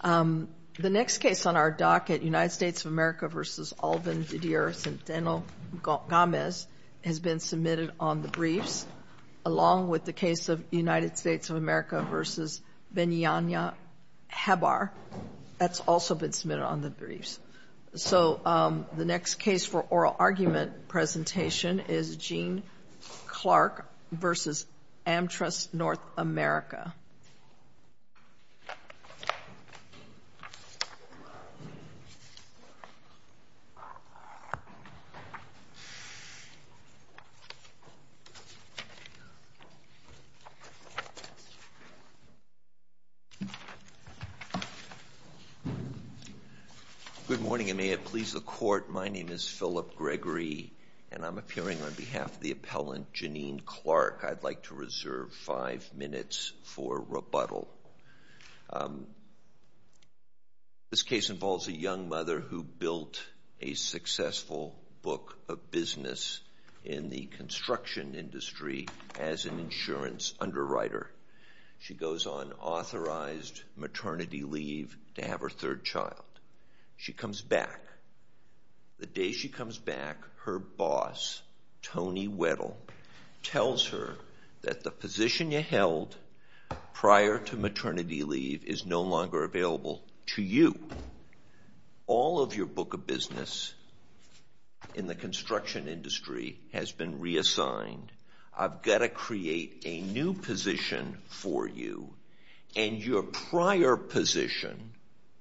The next case on our docket, United States of America v. Alvin Didier Centeno-Gamez, has been submitted on the briefs, along with the case of United States of America v. Benyanya Habar. That's also been submitted on the briefs. So the next case for oral argument presentation is Jeannine Clark v. Amtrust North America. Good morning, and may it please the Court. My name is Philip Gregory, and I'm appearing on behalf of the appellant Jeannine Clark. I'd like to reserve five minutes for rebuttal. This case involves a young mother who built a successful book of business in the construction industry as an insurance underwriter. She goes on authorized maternity leave to have her third child. She comes back. The day she comes back, her boss, Tony Weddle, tells her that the position you held prior to maternity leave is no longer available to you. All of your book of business in the construction industry has been reassigned. I've got to create a new position for you, and your prior position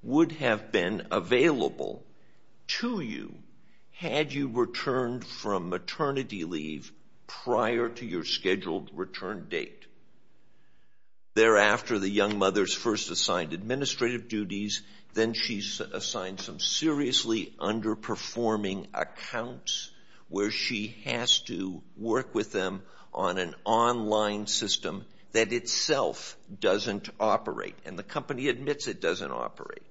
would have been available to you had you returned from maternity leave prior to your scheduled return date. Thereafter, the young mother is first assigned administrative duties, then she's assigned some seriously underperforming accounts where she has to work with them on an online system that itself doesn't operate, and the company admits it doesn't operate.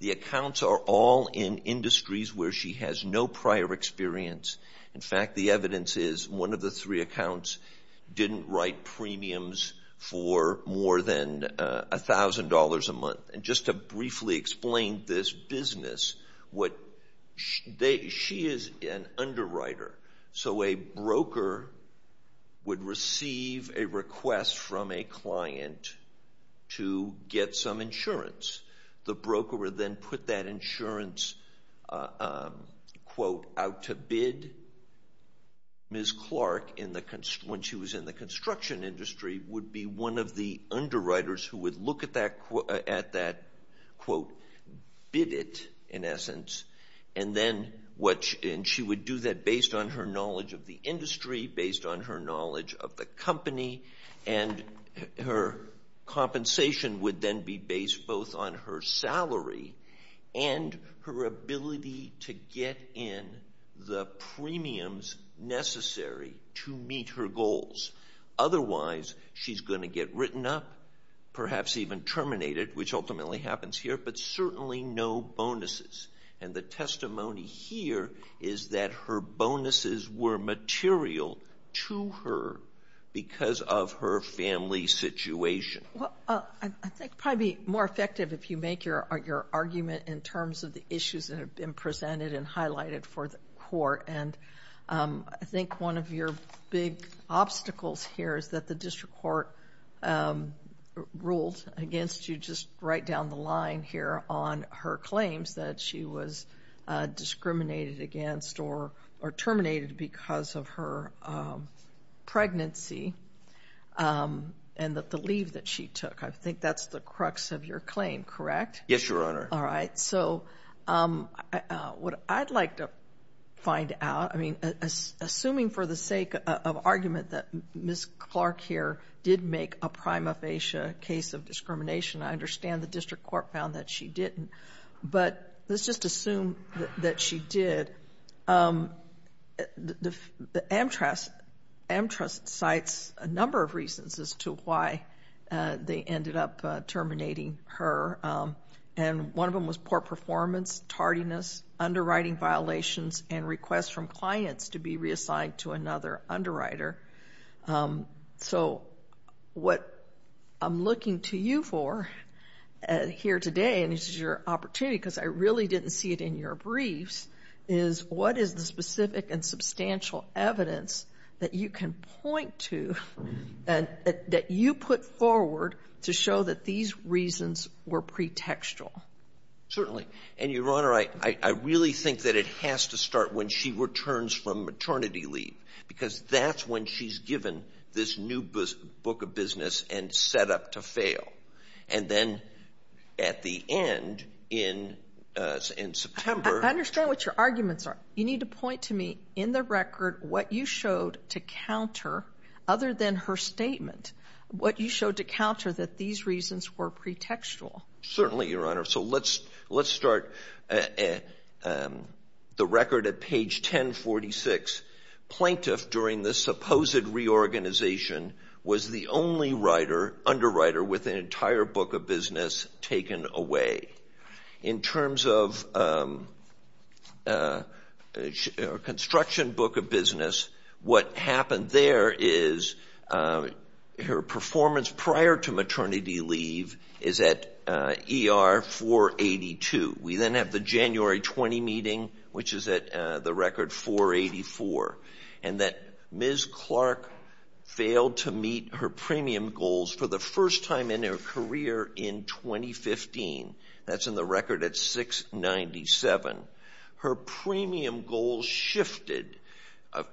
The accounts are all in industries where she has no prior experience. In fact, the evidence is one of the three accounts didn't write premiums for more than $1,000 a month. Just to briefly explain this business, she is an underwriter, so a broker would receive a request from a client to get some insurance. The broker would then put that insurance quote out to bid. Ms. Clark, when she was in the construction industry, would be one of the underwriters who would look at that quote, bid it in essence, and she would do that based on her knowledge of the industry, based on her knowledge of the company, and her compensation would then be based both on her salary and her ability to get in the premiums necessary to meet her goals. Otherwise, she's going to get written up, perhaps even terminated, which ultimately happens here, but certainly no bonuses. And the testimony here is that her bonuses were material to her because of her family situation. I think it would probably be more effective if you make your argument in terms of the issues that have been presented and highlighted for the court. I think one of your big obstacles here is that the district court ruled against you just right down the line here on her claims that she was discriminated against or terminated because of her pregnancy and the leave that she took. I think that's the crux of your claim, correct? Yes, Your Honor. All right. So what I'd like to find out, I mean, assuming for the sake of argument that Ms. Clark here did make a prima facie case of discrimination, I understand the district court found that she didn't, but let's just assume that she did. The AmTrust cites a number of reasons as to why they ended up terminating her, and one of them was poor performance, tardiness, underwriting violations, and requests from clients to be reassigned to another underwriter. So what I'm looking to you for here today, and this is your opportunity because I really didn't see it in your briefs, is what is the specific and substantial evidence that you can point to that you put forward to show that these reasons were pretextual? Certainly. And, Your Honor, I really think that it has to start when she returns from maternity leave because that's when she's given this new book of business and set up to fail, and then at the end in September. I understand what your arguments are. You need to point to me in the record what you showed to counter, other than her statement, what you showed to counter that these reasons were pretextual. Certainly, Your Honor. So let's start the record at page 1046. Plaintiff, during the supposed reorganization, was the only underwriter with an entire book of business taken away. In terms of construction book of business, what happened there is her performance prior to maternity leave is at ER 482. We then have the January 20 meeting, which is at the record 484, and that Ms. Clark failed to meet her premium goals for the first time in her career in 2015 That's in the record at 697. Her premium goals shifted.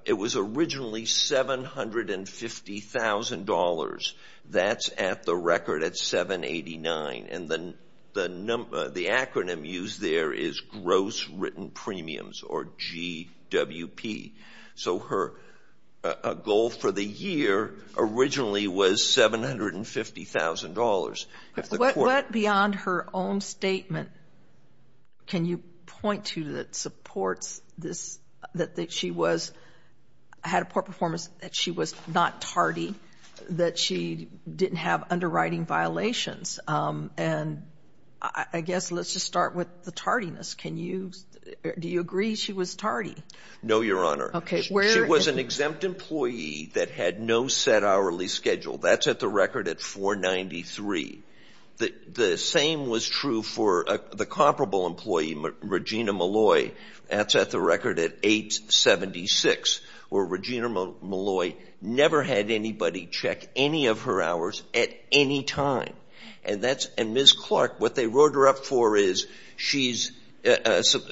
It was originally $750,000. That's at the record at 789, and the acronym used there is Gross Written Premiums, or GWP. So her goal for the year originally was $750,000. What beyond her own statement can you point to that supports this, that she had a poor performance, that she was not tardy, that she didn't have underwriting violations? And I guess let's just start with the tardiness. Do you agree she was tardy? No, Your Honor. She was an exempt employee that had no set hourly schedule. That's at the record at 493. The same was true for the comparable employee, Regina Molloy. That's at the record at 876, where Regina Molloy never had anybody check any of her hours at any time. And Ms. Clark, what they roared her up for is she's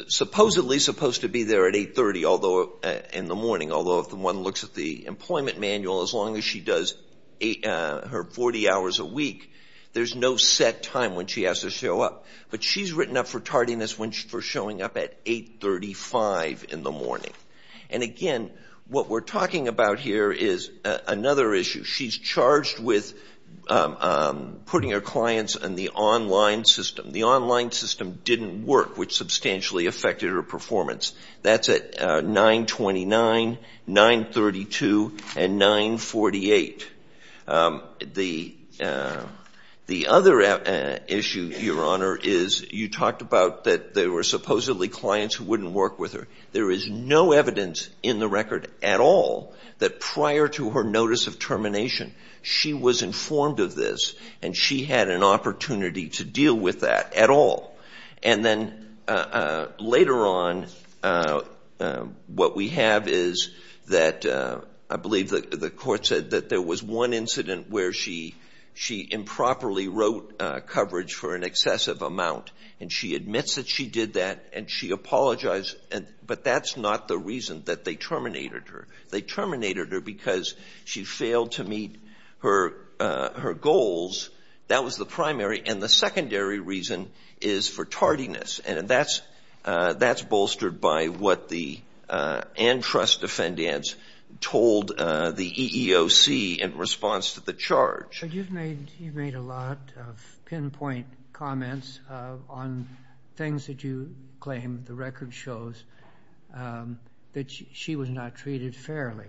supposedly supposed to be there at 830 in the morning, although if one looks at the employment manual, as long as she does her 40 hours a week, there's no set time when she has to show up. But she's written up for tardiness for showing up at 835 in the morning. And again, what we're talking about here is another issue. She's charged with putting her clients in the online system. The online system didn't work, which substantially affected her performance. That's at 929, 932, and 948. The other issue, Your Honor, is you talked about that there were supposedly clients who wouldn't work with her. There is no evidence in the record at all that prior to her notice of termination she was informed of this and she had an opportunity to deal with that at all. And then later on, what we have is that I believe the court said that there was one incident where she improperly wrote coverage for an excessive amount, and she admits that she did that, and she apologized, but that's not the reason that they terminated her. They terminated her because she failed to meet her goals. That was the primary, and the secondary reason is for tardiness, and that's bolstered by what the antrust defendants told the EEOC in response to the charge. But you've made a lot of pinpoint comments on things that you claim the record shows that she was not treated fairly.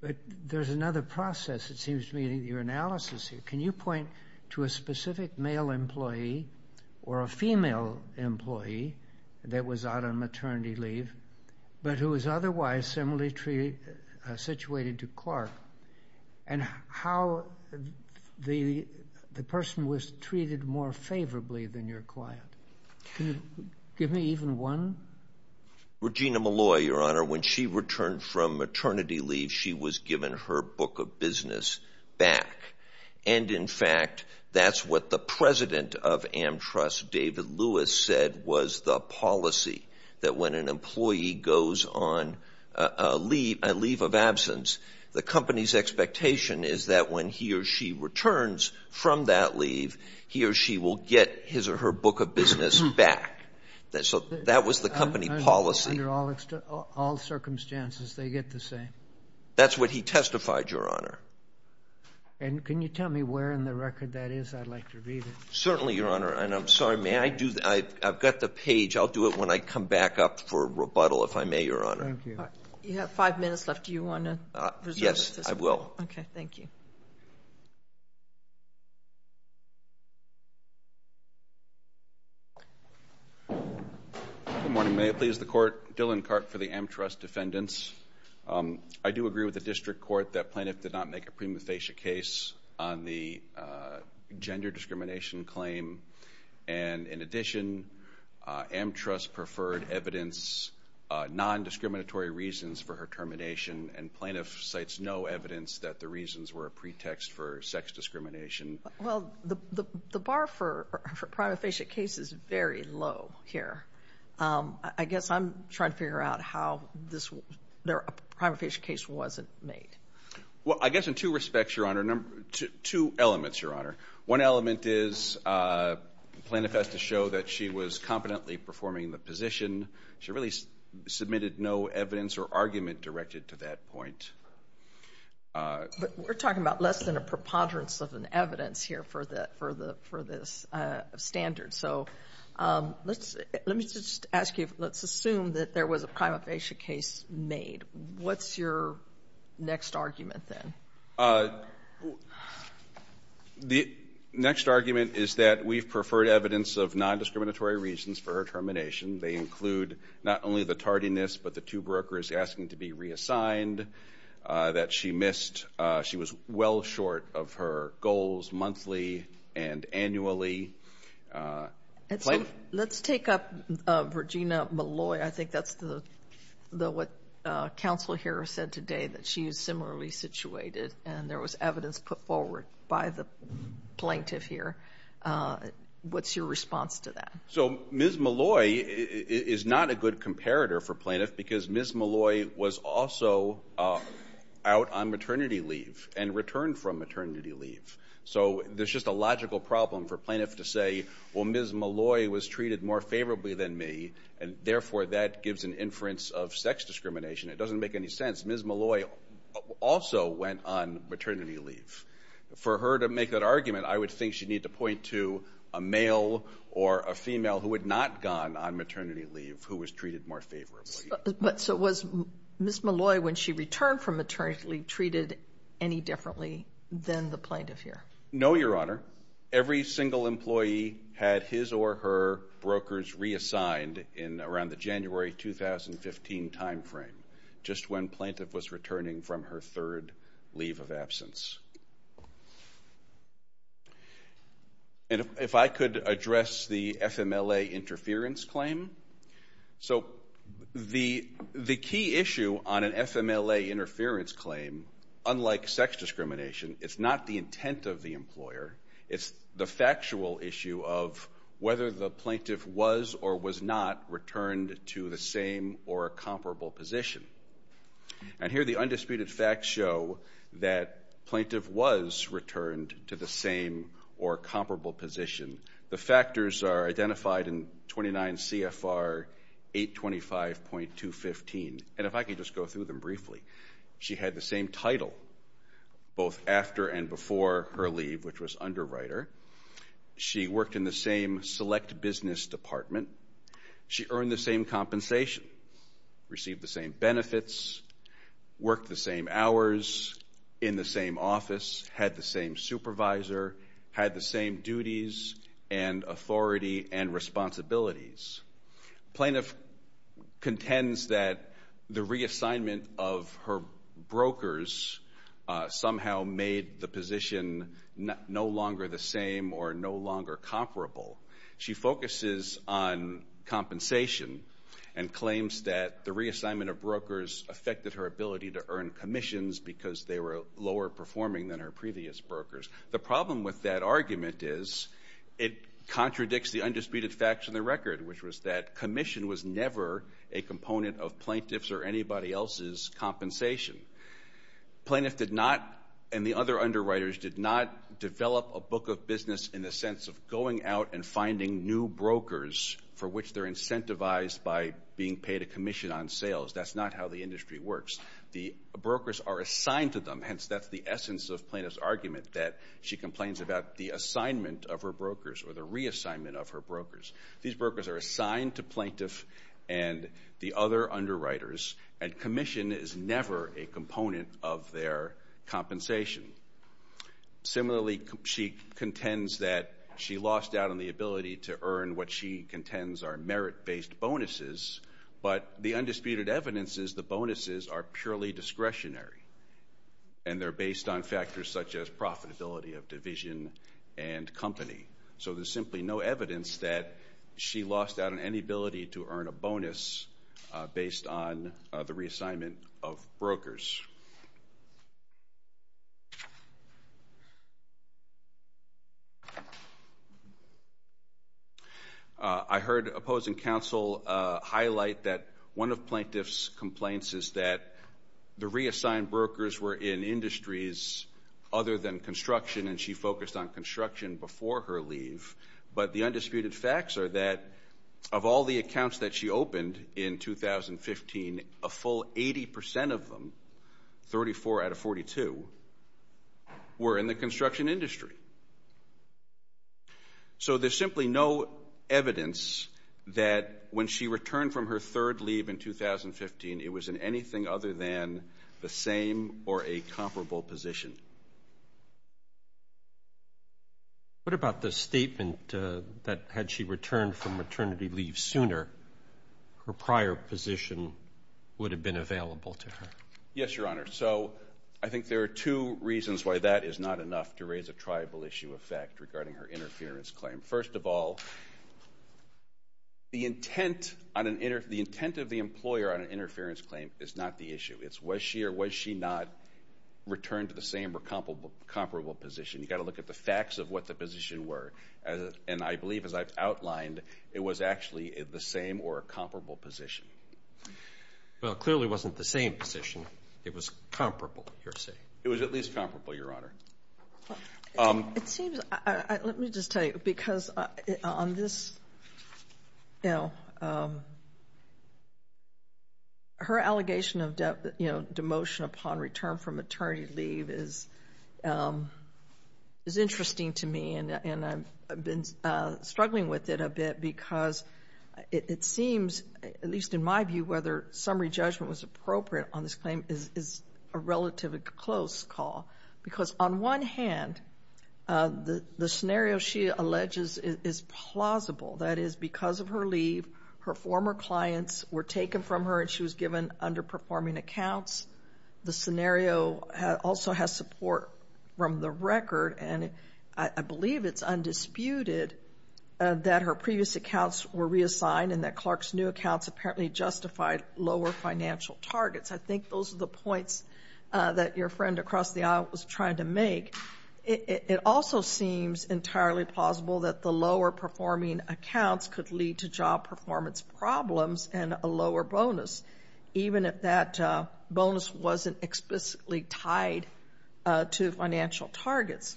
But there's another process, it seems to me, in your analysis here. Can you point to a specific male employee or a female employee that was out on maternity leave but who was otherwise similarly situated to Clark, and how the person was treated more favorably than your client? Can you give me even one? Regina Malloy, Your Honor, when she returned from maternity leave, she was given her book of business back. And, in fact, that's what the president of Amtrust, David Lewis, said was the policy, that when an employee goes on a leave of absence, the company's expectation is that when he or she returns from that leave, he or she will get his or her book of business back. So that was the company policy. Under all circumstances, they get the same. That's what he testified, Your Honor. And can you tell me where in the record that is? I'd like to read it. Certainly, Your Honor. And I'm sorry, may I do that? I've got the page. I'll do it when I come back up for rebuttal, if I may, Your Honor. Thank you. You have five minutes left. Do you want to resolve this? Yes, I will. Okay, thank you. Good morning. May it please the Court. Dylan Karp for the Amtrust Defendants. I do agree with the district court that Plaintiff did not make a prima facie case on the gender discrimination claim. And, in addition, Amtrust preferred evidence, non-discriminatory reasons for her termination, and Plaintiff cites no evidence that the reasons were a pretext for sex discrimination. Well, the bar for a prima facie case is very low here. I guess I'm trying to figure out how a prima facie case wasn't made. Well, I guess in two respects, Your Honor, two elements, Your Honor. One element is Plaintiff has to show that she was competently performing the position. She really submitted no evidence or argument directed to that point. But we're talking about less than a preponderance of an evidence here for this standard. So let me just ask you, let's assume that there was a prima facie case made. What's your next argument then? The next argument is that we've preferred evidence of non-discriminatory reasons for her termination. They include not only the tardiness, but the two brokers asking to be reassigned that she missed. She was well short of her goals monthly and annually. Let's take up Regina Molloy. I think that's what Counsel here said today, that she was similarly situated and there was evidence put forward by the Plaintiff here. What's your response to that? So Ms. Molloy is not a good comparator for Plaintiff because Ms. Molloy was also out on maternity leave and returned from maternity leave. So there's just a logical problem for Plaintiff to say, well, Ms. Molloy was treated more favorably than me, and therefore that gives an inference of sex discrimination. It doesn't make any sense. Ms. Molloy also went on maternity leave. For her to make that argument, I would think she'd need to point to a male or a female who had not gone on maternity leave who was treated more favorably. So was Ms. Molloy, when she returned from maternity leave, treated any differently than the Plaintiff here? No, Your Honor. Every single employee had his or her brokers reassigned in around the January 2015 timeframe, just when Plaintiff was returning from her third leave of absence. And if I could address the FMLA interference claim. So the key issue on an FMLA interference claim, unlike sex discrimination, it's not the intent of the employer, it's the factual issue of whether the Plaintiff was or was not returned to the same or a comparable position. And here the undisputed facts show that Plaintiff was returned to the same or comparable position. The factors are identified in 29 CFR 825.215. And if I could just go through them briefly. She had the same title both after and before her leave, which was underwriter. She worked in the same select business department. She earned the same compensation, received the same benefits, worked the same hours, in the same office, had the same supervisor, had the same duties and authority and responsibilities. Plaintiff contends that the reassignment of her brokers somehow made the position no longer the same or no longer comparable. She focuses on compensation and claims that the reassignment of brokers affected her ability to earn commissions because they were lower performing than her previous brokers. The problem with that argument is it contradicts the undisputed facts of the record, which was that commission was never a component of Plaintiff's or anybody else's compensation. Plaintiff did not, and the other underwriters, did not develop a book of business in the sense of going out and finding new brokers for which they're incentivized by being paid a commission on sales. That's not how the industry works. The brokers are assigned to them. Hence, that's the essence of Plaintiff's argument, that she complains about the assignment of her brokers or the reassignment of her brokers. These brokers are assigned to Plaintiff and the other underwriters, and commission is never a component of their compensation. Similarly, she contends that she lost out on the ability to earn what she contends are merit-based bonuses, but the undisputed evidence is the bonuses are purely discretionary, and they're based on factors such as profitability of division and company. So there's simply no evidence that she lost out on any ability to earn a bonus based on the reassignment of brokers. I heard opposing counsel highlight that one of Plaintiff's complaints is that the reassigned brokers were in industries other than construction, and she focused on construction before her leave, but the undisputed facts are that of all the accounts that she opened in 2015, a full 80% of them, 34 out of 42, were in the construction industry. So there's simply no evidence that when she returned from her third leave in 2015, it was in anything other than the same or a comparable position. What about the statement that had she returned from maternity leave sooner, her prior position would have been available to her? Yes, Your Honor. So I think there are two reasons why that is not enough to raise a triable issue of fact regarding her interference claim. First of all, the intent of the employer on an interference claim is not the issue. It's was she or was she not returned to the same or comparable position. You've got to look at the facts of what the position were, and I believe as I've outlined it was actually the same or a comparable position. Well, it clearly wasn't the same position. It was comparable, you're saying? It was at least comparable, Your Honor. It seems, let me just tell you, because on this, you know, her allegation of demotion upon return from maternity leave is interesting to me, and I've been struggling with it a bit because it seems, at least in my view, whether summary judgment was appropriate on this claim is a relatively close call because on one hand, the scenario she alleges is plausible. That is, because of her leave, her former clients were taken from her and she was given underperforming accounts. The scenario also has support from the record, and I believe it's undisputed that her previous accounts were reassigned and that Clark's new accounts apparently justified lower financial targets. I think those are the points that your friend across the aisle was trying to make. It also seems entirely plausible that the lower-performing accounts could lead to job performance problems and a lower bonus, even if that bonus wasn't explicitly tied to financial targets.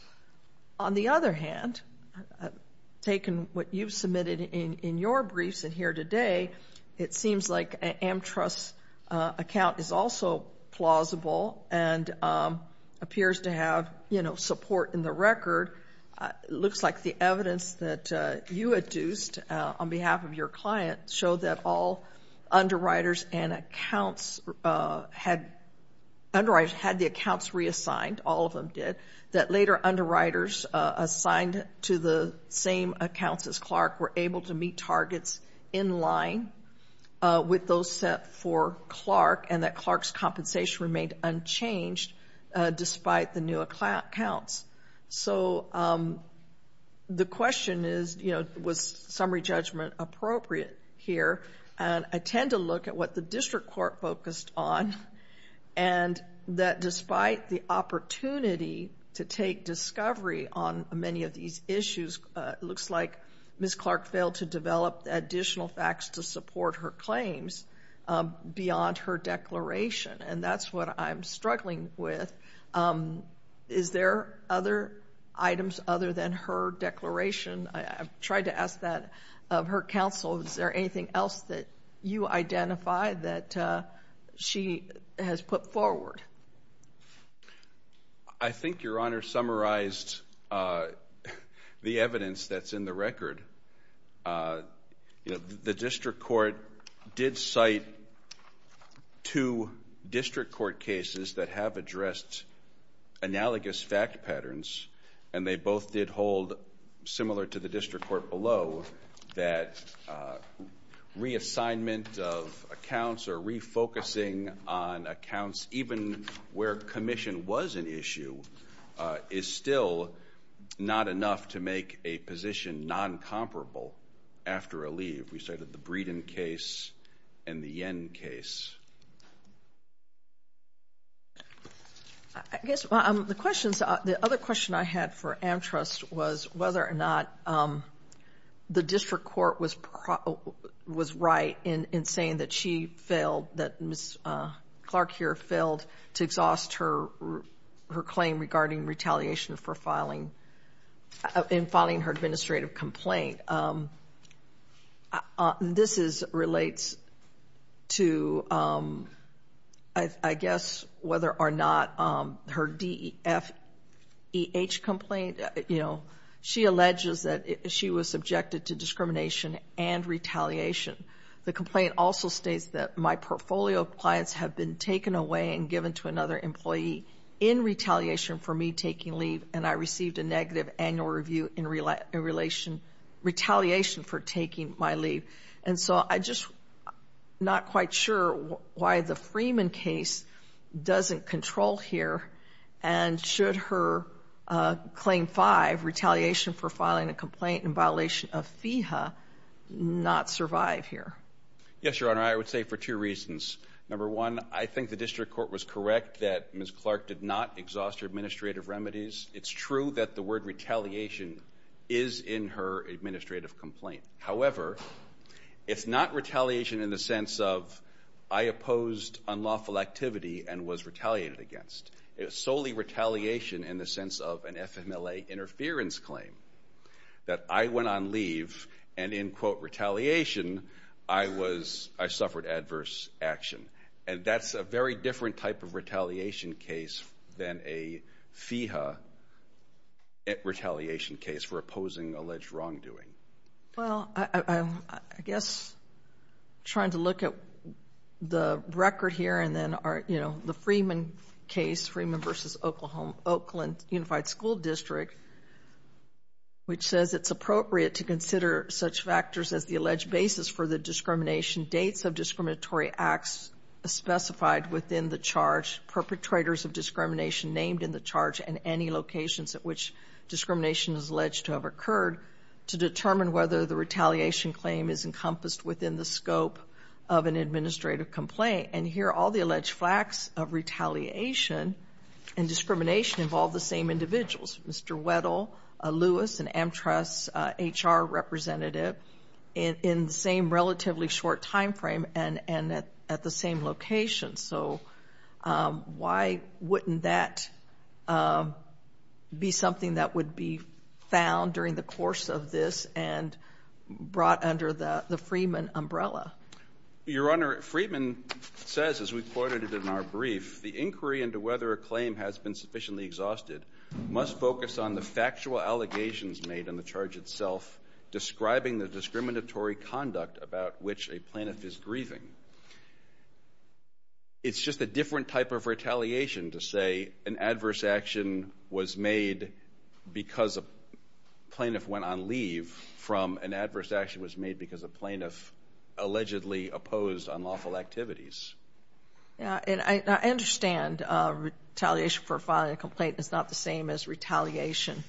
On the other hand, taking what you've submitted in your briefs and here today, it seems like AmTrust's account is also plausible and appears to have, you know, support in the record. It looks like the evidence that you adduced on behalf of your client showed that all underwriters and accounts had the accounts reassigned, all of them did, that later underwriters assigned to the same accounts as Clark were able to meet targets in line with those set for Clark and that Clark's compensation remained unchanged despite the new accounts. So the question is, you know, was summary judgment appropriate here? And I tend to look at what the district court focused on and that despite the opportunity to take discovery on many of these issues, it looks like Ms. Clark failed to develop additional facts to support her claims beyond her declaration. And that's what I'm struggling with. Is there other items other than her declaration? I've tried to ask that of her counsel. Is there anything else that you identify that she has put forward? I think Your Honor summarized the evidence that's in the record. The district court did cite two district court cases that have addressed analogous fact patterns and they both did hold, similar to the district court below, that reassignment of accounts or refocusing on accounts even where commission was an issue is still not enough to make a position non-comparable after a leave. We cited the Breeden case and the Yen case. I guess the other question I had for Amtrust was whether or not the district court was right in saying that Ms. Clark here failed to exhaust her claim regarding retaliation for filing her administrative complaint. This relates to, I guess, whether or not her DEFEH complaint, she alleges that she was subjected to discrimination and retaliation. The complaint also states that my portfolio of clients have been taken away and given to another employee in retaliation for me taking leave and I received a negative annual review in retaliation for taking my leave. And so I'm just not quite sure why the Freeman case doesn't control here and should her Claim 5, Retaliation for Filing a Complaint in Violation of FEHA, not survive here. Yes, Your Honor. I would say for two reasons. Number one, I think the district court was correct that Ms. Clark did not exhaust her administrative remedies. It's true that the word retaliation is in her administrative complaint. However, it's not retaliation in the sense of I opposed unlawful activity and was retaliated against. It was solely retaliation in the sense of an FMLA interference claim, that I went on leave and in, quote, retaliation, I suffered adverse action. And that's a very different type of retaliation case than a FEHA retaliation case for opposing alleged wrongdoing. Well, I guess trying to look at the record here and then, you know, the Freeman case, Freeman v. Oakland Unified School District, which says it's appropriate to consider such factors as the alleged basis for the discrimination, dates of discriminatory acts specified within the charge, perpetrators of discrimination named in the charge, and any locations at which discrimination is alleged to have occurred to determine whether the retaliation claim is encompassed within the scope of an administrative complaint. And here, all the alleged facts of retaliation and discrimination involve the same individuals, Mr. Weddle, Lewis, an Amtras HR representative, in the same relatively short time frame and at the same location. So why wouldn't that be something that would be found during the course of this and brought under the Freeman umbrella? Your Honor, Freeman says, as we quoted in our brief, the inquiry into whether a claim has been sufficiently exhausted must focus on the factual allegations made in the charge itself, describing the discriminatory conduct about which a plaintiff is grieving. It's just a different type of retaliation to say an adverse action was made because a plaintiff went on leave from an adverse action was made because a plaintiff allegedly opposed unlawful activities. And I understand retaliation for filing a complaint is not the same as retaliation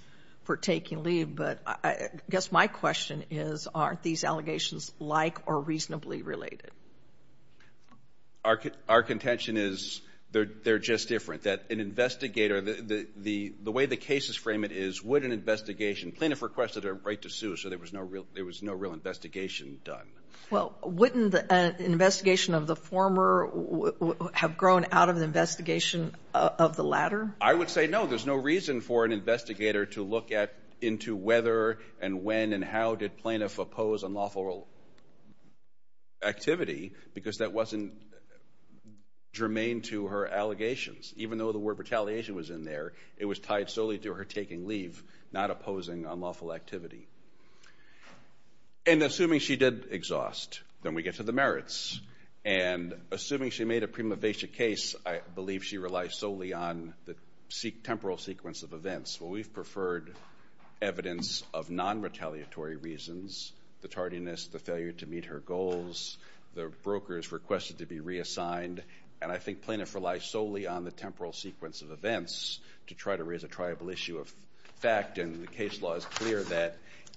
for taking leave, but I guess my question is, aren't these allegations like or reasonably related? Our contention is they're just different. That an investigator, the way the cases frame it is, would an investigation, plaintiff requested a right to sue, so there was no real investigation done. Well, wouldn't an investigation of the former have grown out of an investigation of the latter? I would say no. There's no reason for an investigator to look into whether and when and how did plaintiff oppose unlawful activity because that wasn't germane to her allegations. Even though the word retaliation was in there, it was tied solely to her taking leave, not opposing unlawful activity. And assuming she did exhaust, then we get to the merits. And assuming she made a prima facie case, I believe she relies solely on the temporal sequence of events. Well, we've preferred evidence of non-retaliatory reasons, the tardiness, the failure to meet her goals, the broker's request to be reassigned, and I think plaintiffs rely solely on the temporal sequence of events to try to raise a triable issue of fact, and the case law is clear that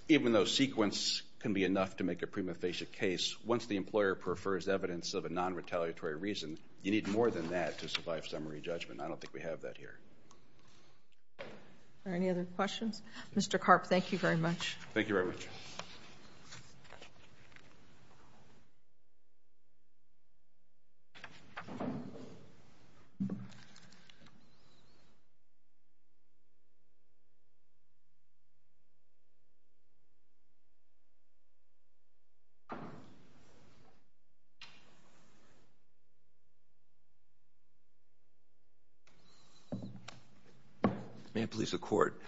even though sequence can be enough to make a prima facie case, once the employer prefers evidence of a non-retaliatory reason, you need more than that to survive summary judgment. I don't think we have that here. Are there any other questions? Mr. Karp, thank you very much. Thank you very much. May I please have the court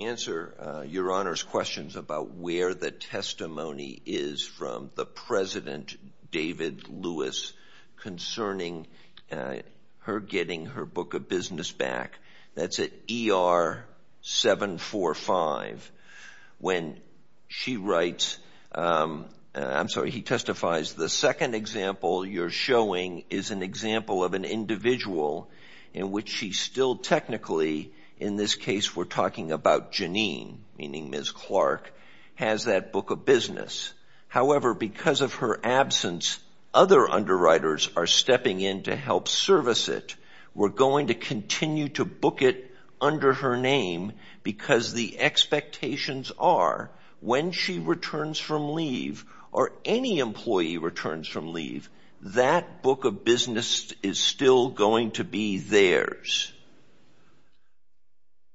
answer Your Honor's questions about where the testimony is from the President, David Lewis, concerning her getting her book of business back. That's at ER 745. When she writes, I'm sorry, he testifies, the second example you're showing is an example of an individual in which she still technically, in this case we're talking about Janine, meaning Ms. Clark, has that book of business. However, because of her absence, other underwriters are stepping in to help service it. We're going to continue to book it under her name because the expectations are when she returns from leave or any employee returns from leave, that book of business is still going to be theirs.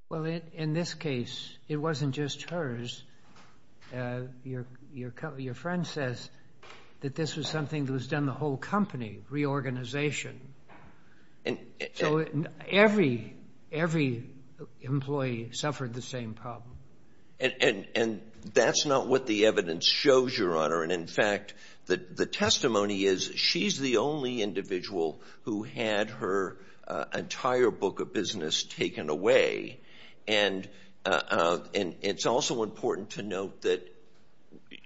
Well, in this case, it wasn't just hers. Your friend says that this was something that was done the whole company, reorganization. So every employee suffered the same problem. And that's not what the evidence shows, Your Honor. And, in fact, the testimony is she's the only individual who had her entire book of business taken away. And it's also important to note that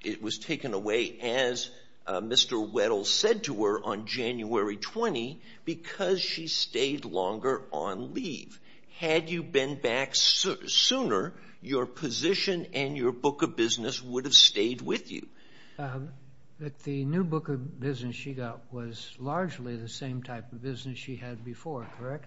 it was taken away, as Mr. Weddle said to her on January 20, because she stayed longer on leave. Had you been back sooner, your position and your book of business would have stayed with you. But the new book of business she got was largely the same type of business she had before, correct?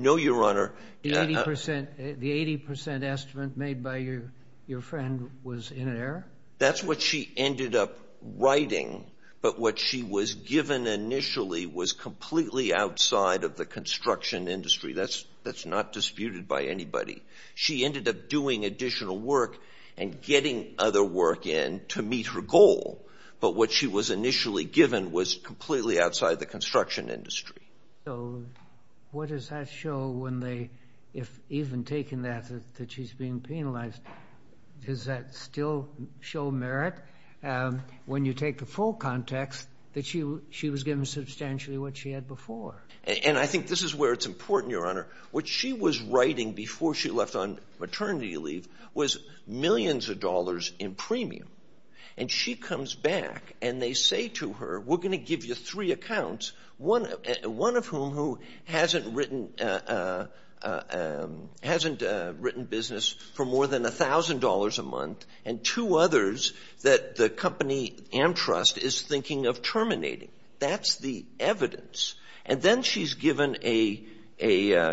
No, Your Honor. The 80% estimate made by your friend was in error? That's what she ended up writing. But what she was given initially was completely outside of the construction industry. That's not disputed by anybody. She ended up doing additional work and getting other work in to meet her goal. But what she was initially given was completely outside the construction industry. So what does that show when they, if even taking that, that she's being penalized, does that still show merit when you take the full context that she was given substantially what she had before? And I think this is where it's important, Your Honor. What she was writing before she left on maternity leave was millions of dollars in premium. And she comes back, and they say to her, we're going to give you three accounts, one of whom who hasn't written business for more than $1,000 a month, and two others that the company Amtrust is thinking of terminating. That's the evidence. And then she's given a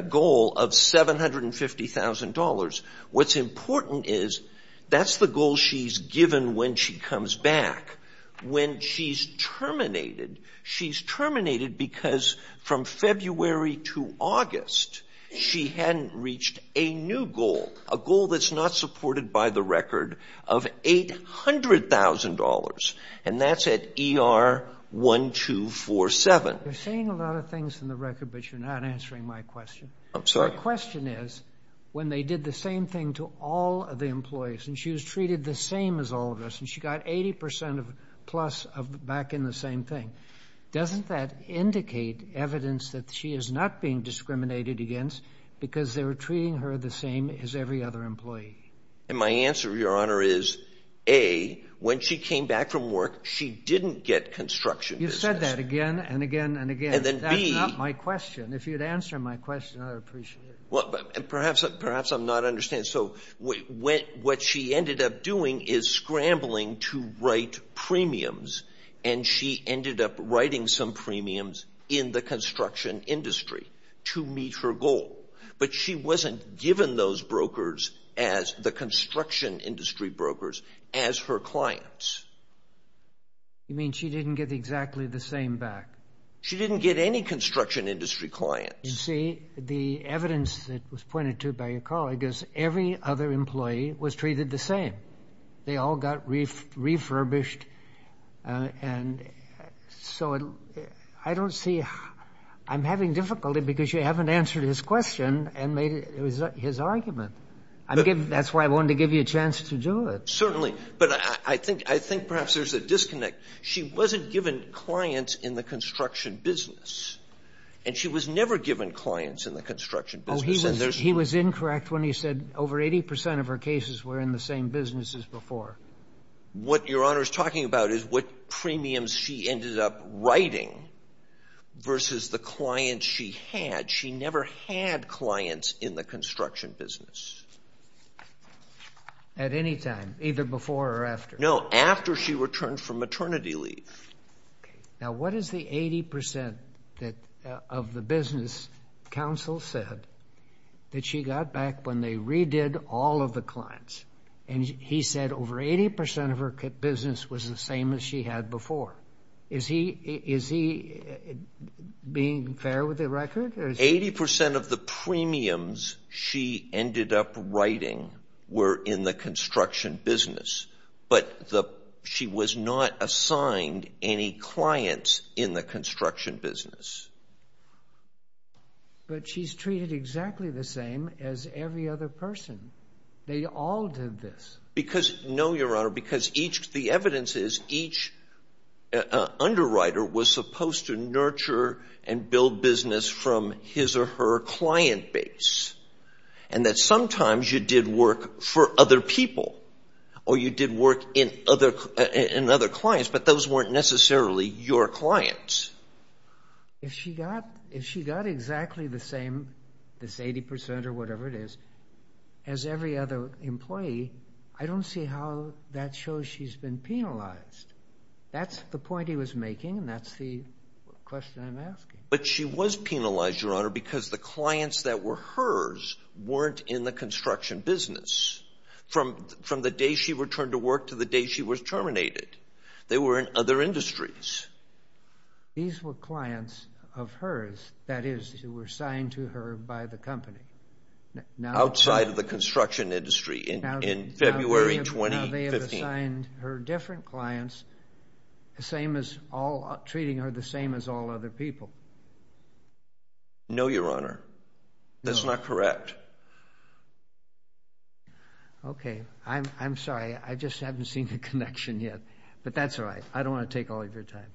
goal of $750,000. What's important is that's the goal she's given when she comes back. When she's terminated, she's terminated because from February to August she hadn't reached a new goal, a goal that's not supported by the record of $800,000, and that's at ER 1247. You're saying a lot of things in the record, but you're not answering my question. I'm sorry. My question is, when they did the same thing to all of the employees, and she was treated the same as all of us, and she got 80%-plus back in the same thing, doesn't that indicate evidence that she is not being discriminated against because they were treating her the same as every other employee? And my answer, Your Honor, is A, when she came back from work, she didn't get construction business. You've said that again and again and again. And then B— That's not my question. If you'd answer my question, I'd appreciate it. Perhaps I'm not understanding. So what she ended up doing is scrambling to write premiums, and she ended up writing some premiums in the construction industry to meet her goal. But she wasn't given those brokers as the construction industry brokers as her clients. You mean she didn't get exactly the same back? She didn't get any construction industry clients. You see, the evidence that was pointed to by your colleague is every other employee was treated the same. They all got refurbished. And so I don't see—I'm having difficulty because you haven't answered his question and made his argument. That's why I wanted to give you a chance to do it. Certainly. But I think perhaps there's a disconnect. She wasn't given clients in the construction business, and she was never given clients in the construction business. Oh, he was incorrect when he said over 80 percent of her cases were in the same business as before. What Your Honor is talking about is what premiums she ended up writing versus the clients she had. She never had clients in the construction business. At any time, either before or after? No, after she returned from maternity leave. Now, what is the 80 percent of the business counsel said that she got back when they redid all of the clients? And he said over 80 percent of her business was the same as she had before. Is he being fair with the record? Eighty percent of the premiums she ended up writing were in the construction business, but she was not assigned any clients in the construction business. But she's treated exactly the same as every other person. They all did this. No, Your Honor, because the evidence is each underwriter was supposed to nurture and build business from his or her client base, and that sometimes you did work for other people or you did work in other clients, but those weren't necessarily your clients. If she got exactly the same, this 80 percent or whatever it is, as every other employee, I don't see how that shows she's been penalized. That's the point he was making, and that's the question I'm asking. But she was penalized, Your Honor, because the clients that were hers weren't in the construction business from the day she returned to work to the day she was terminated. They were in other industries. These were clients of hers, that is, who were assigned to her by the company. Outside of the construction industry in February 2015. She assigned her different clients, treating her the same as all other people. No, Your Honor. That's not correct. Okay. I'm sorry. I just haven't seen the connection yet. But that's all right. I don't want to take all of your time.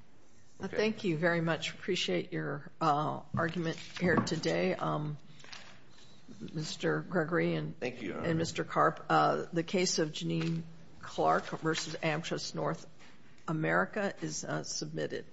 Thank you very much. Appreciate your argument here today, Mr. Gregory and Mr. Karp. The case of Janine Clark v. Amtras North America is submitted.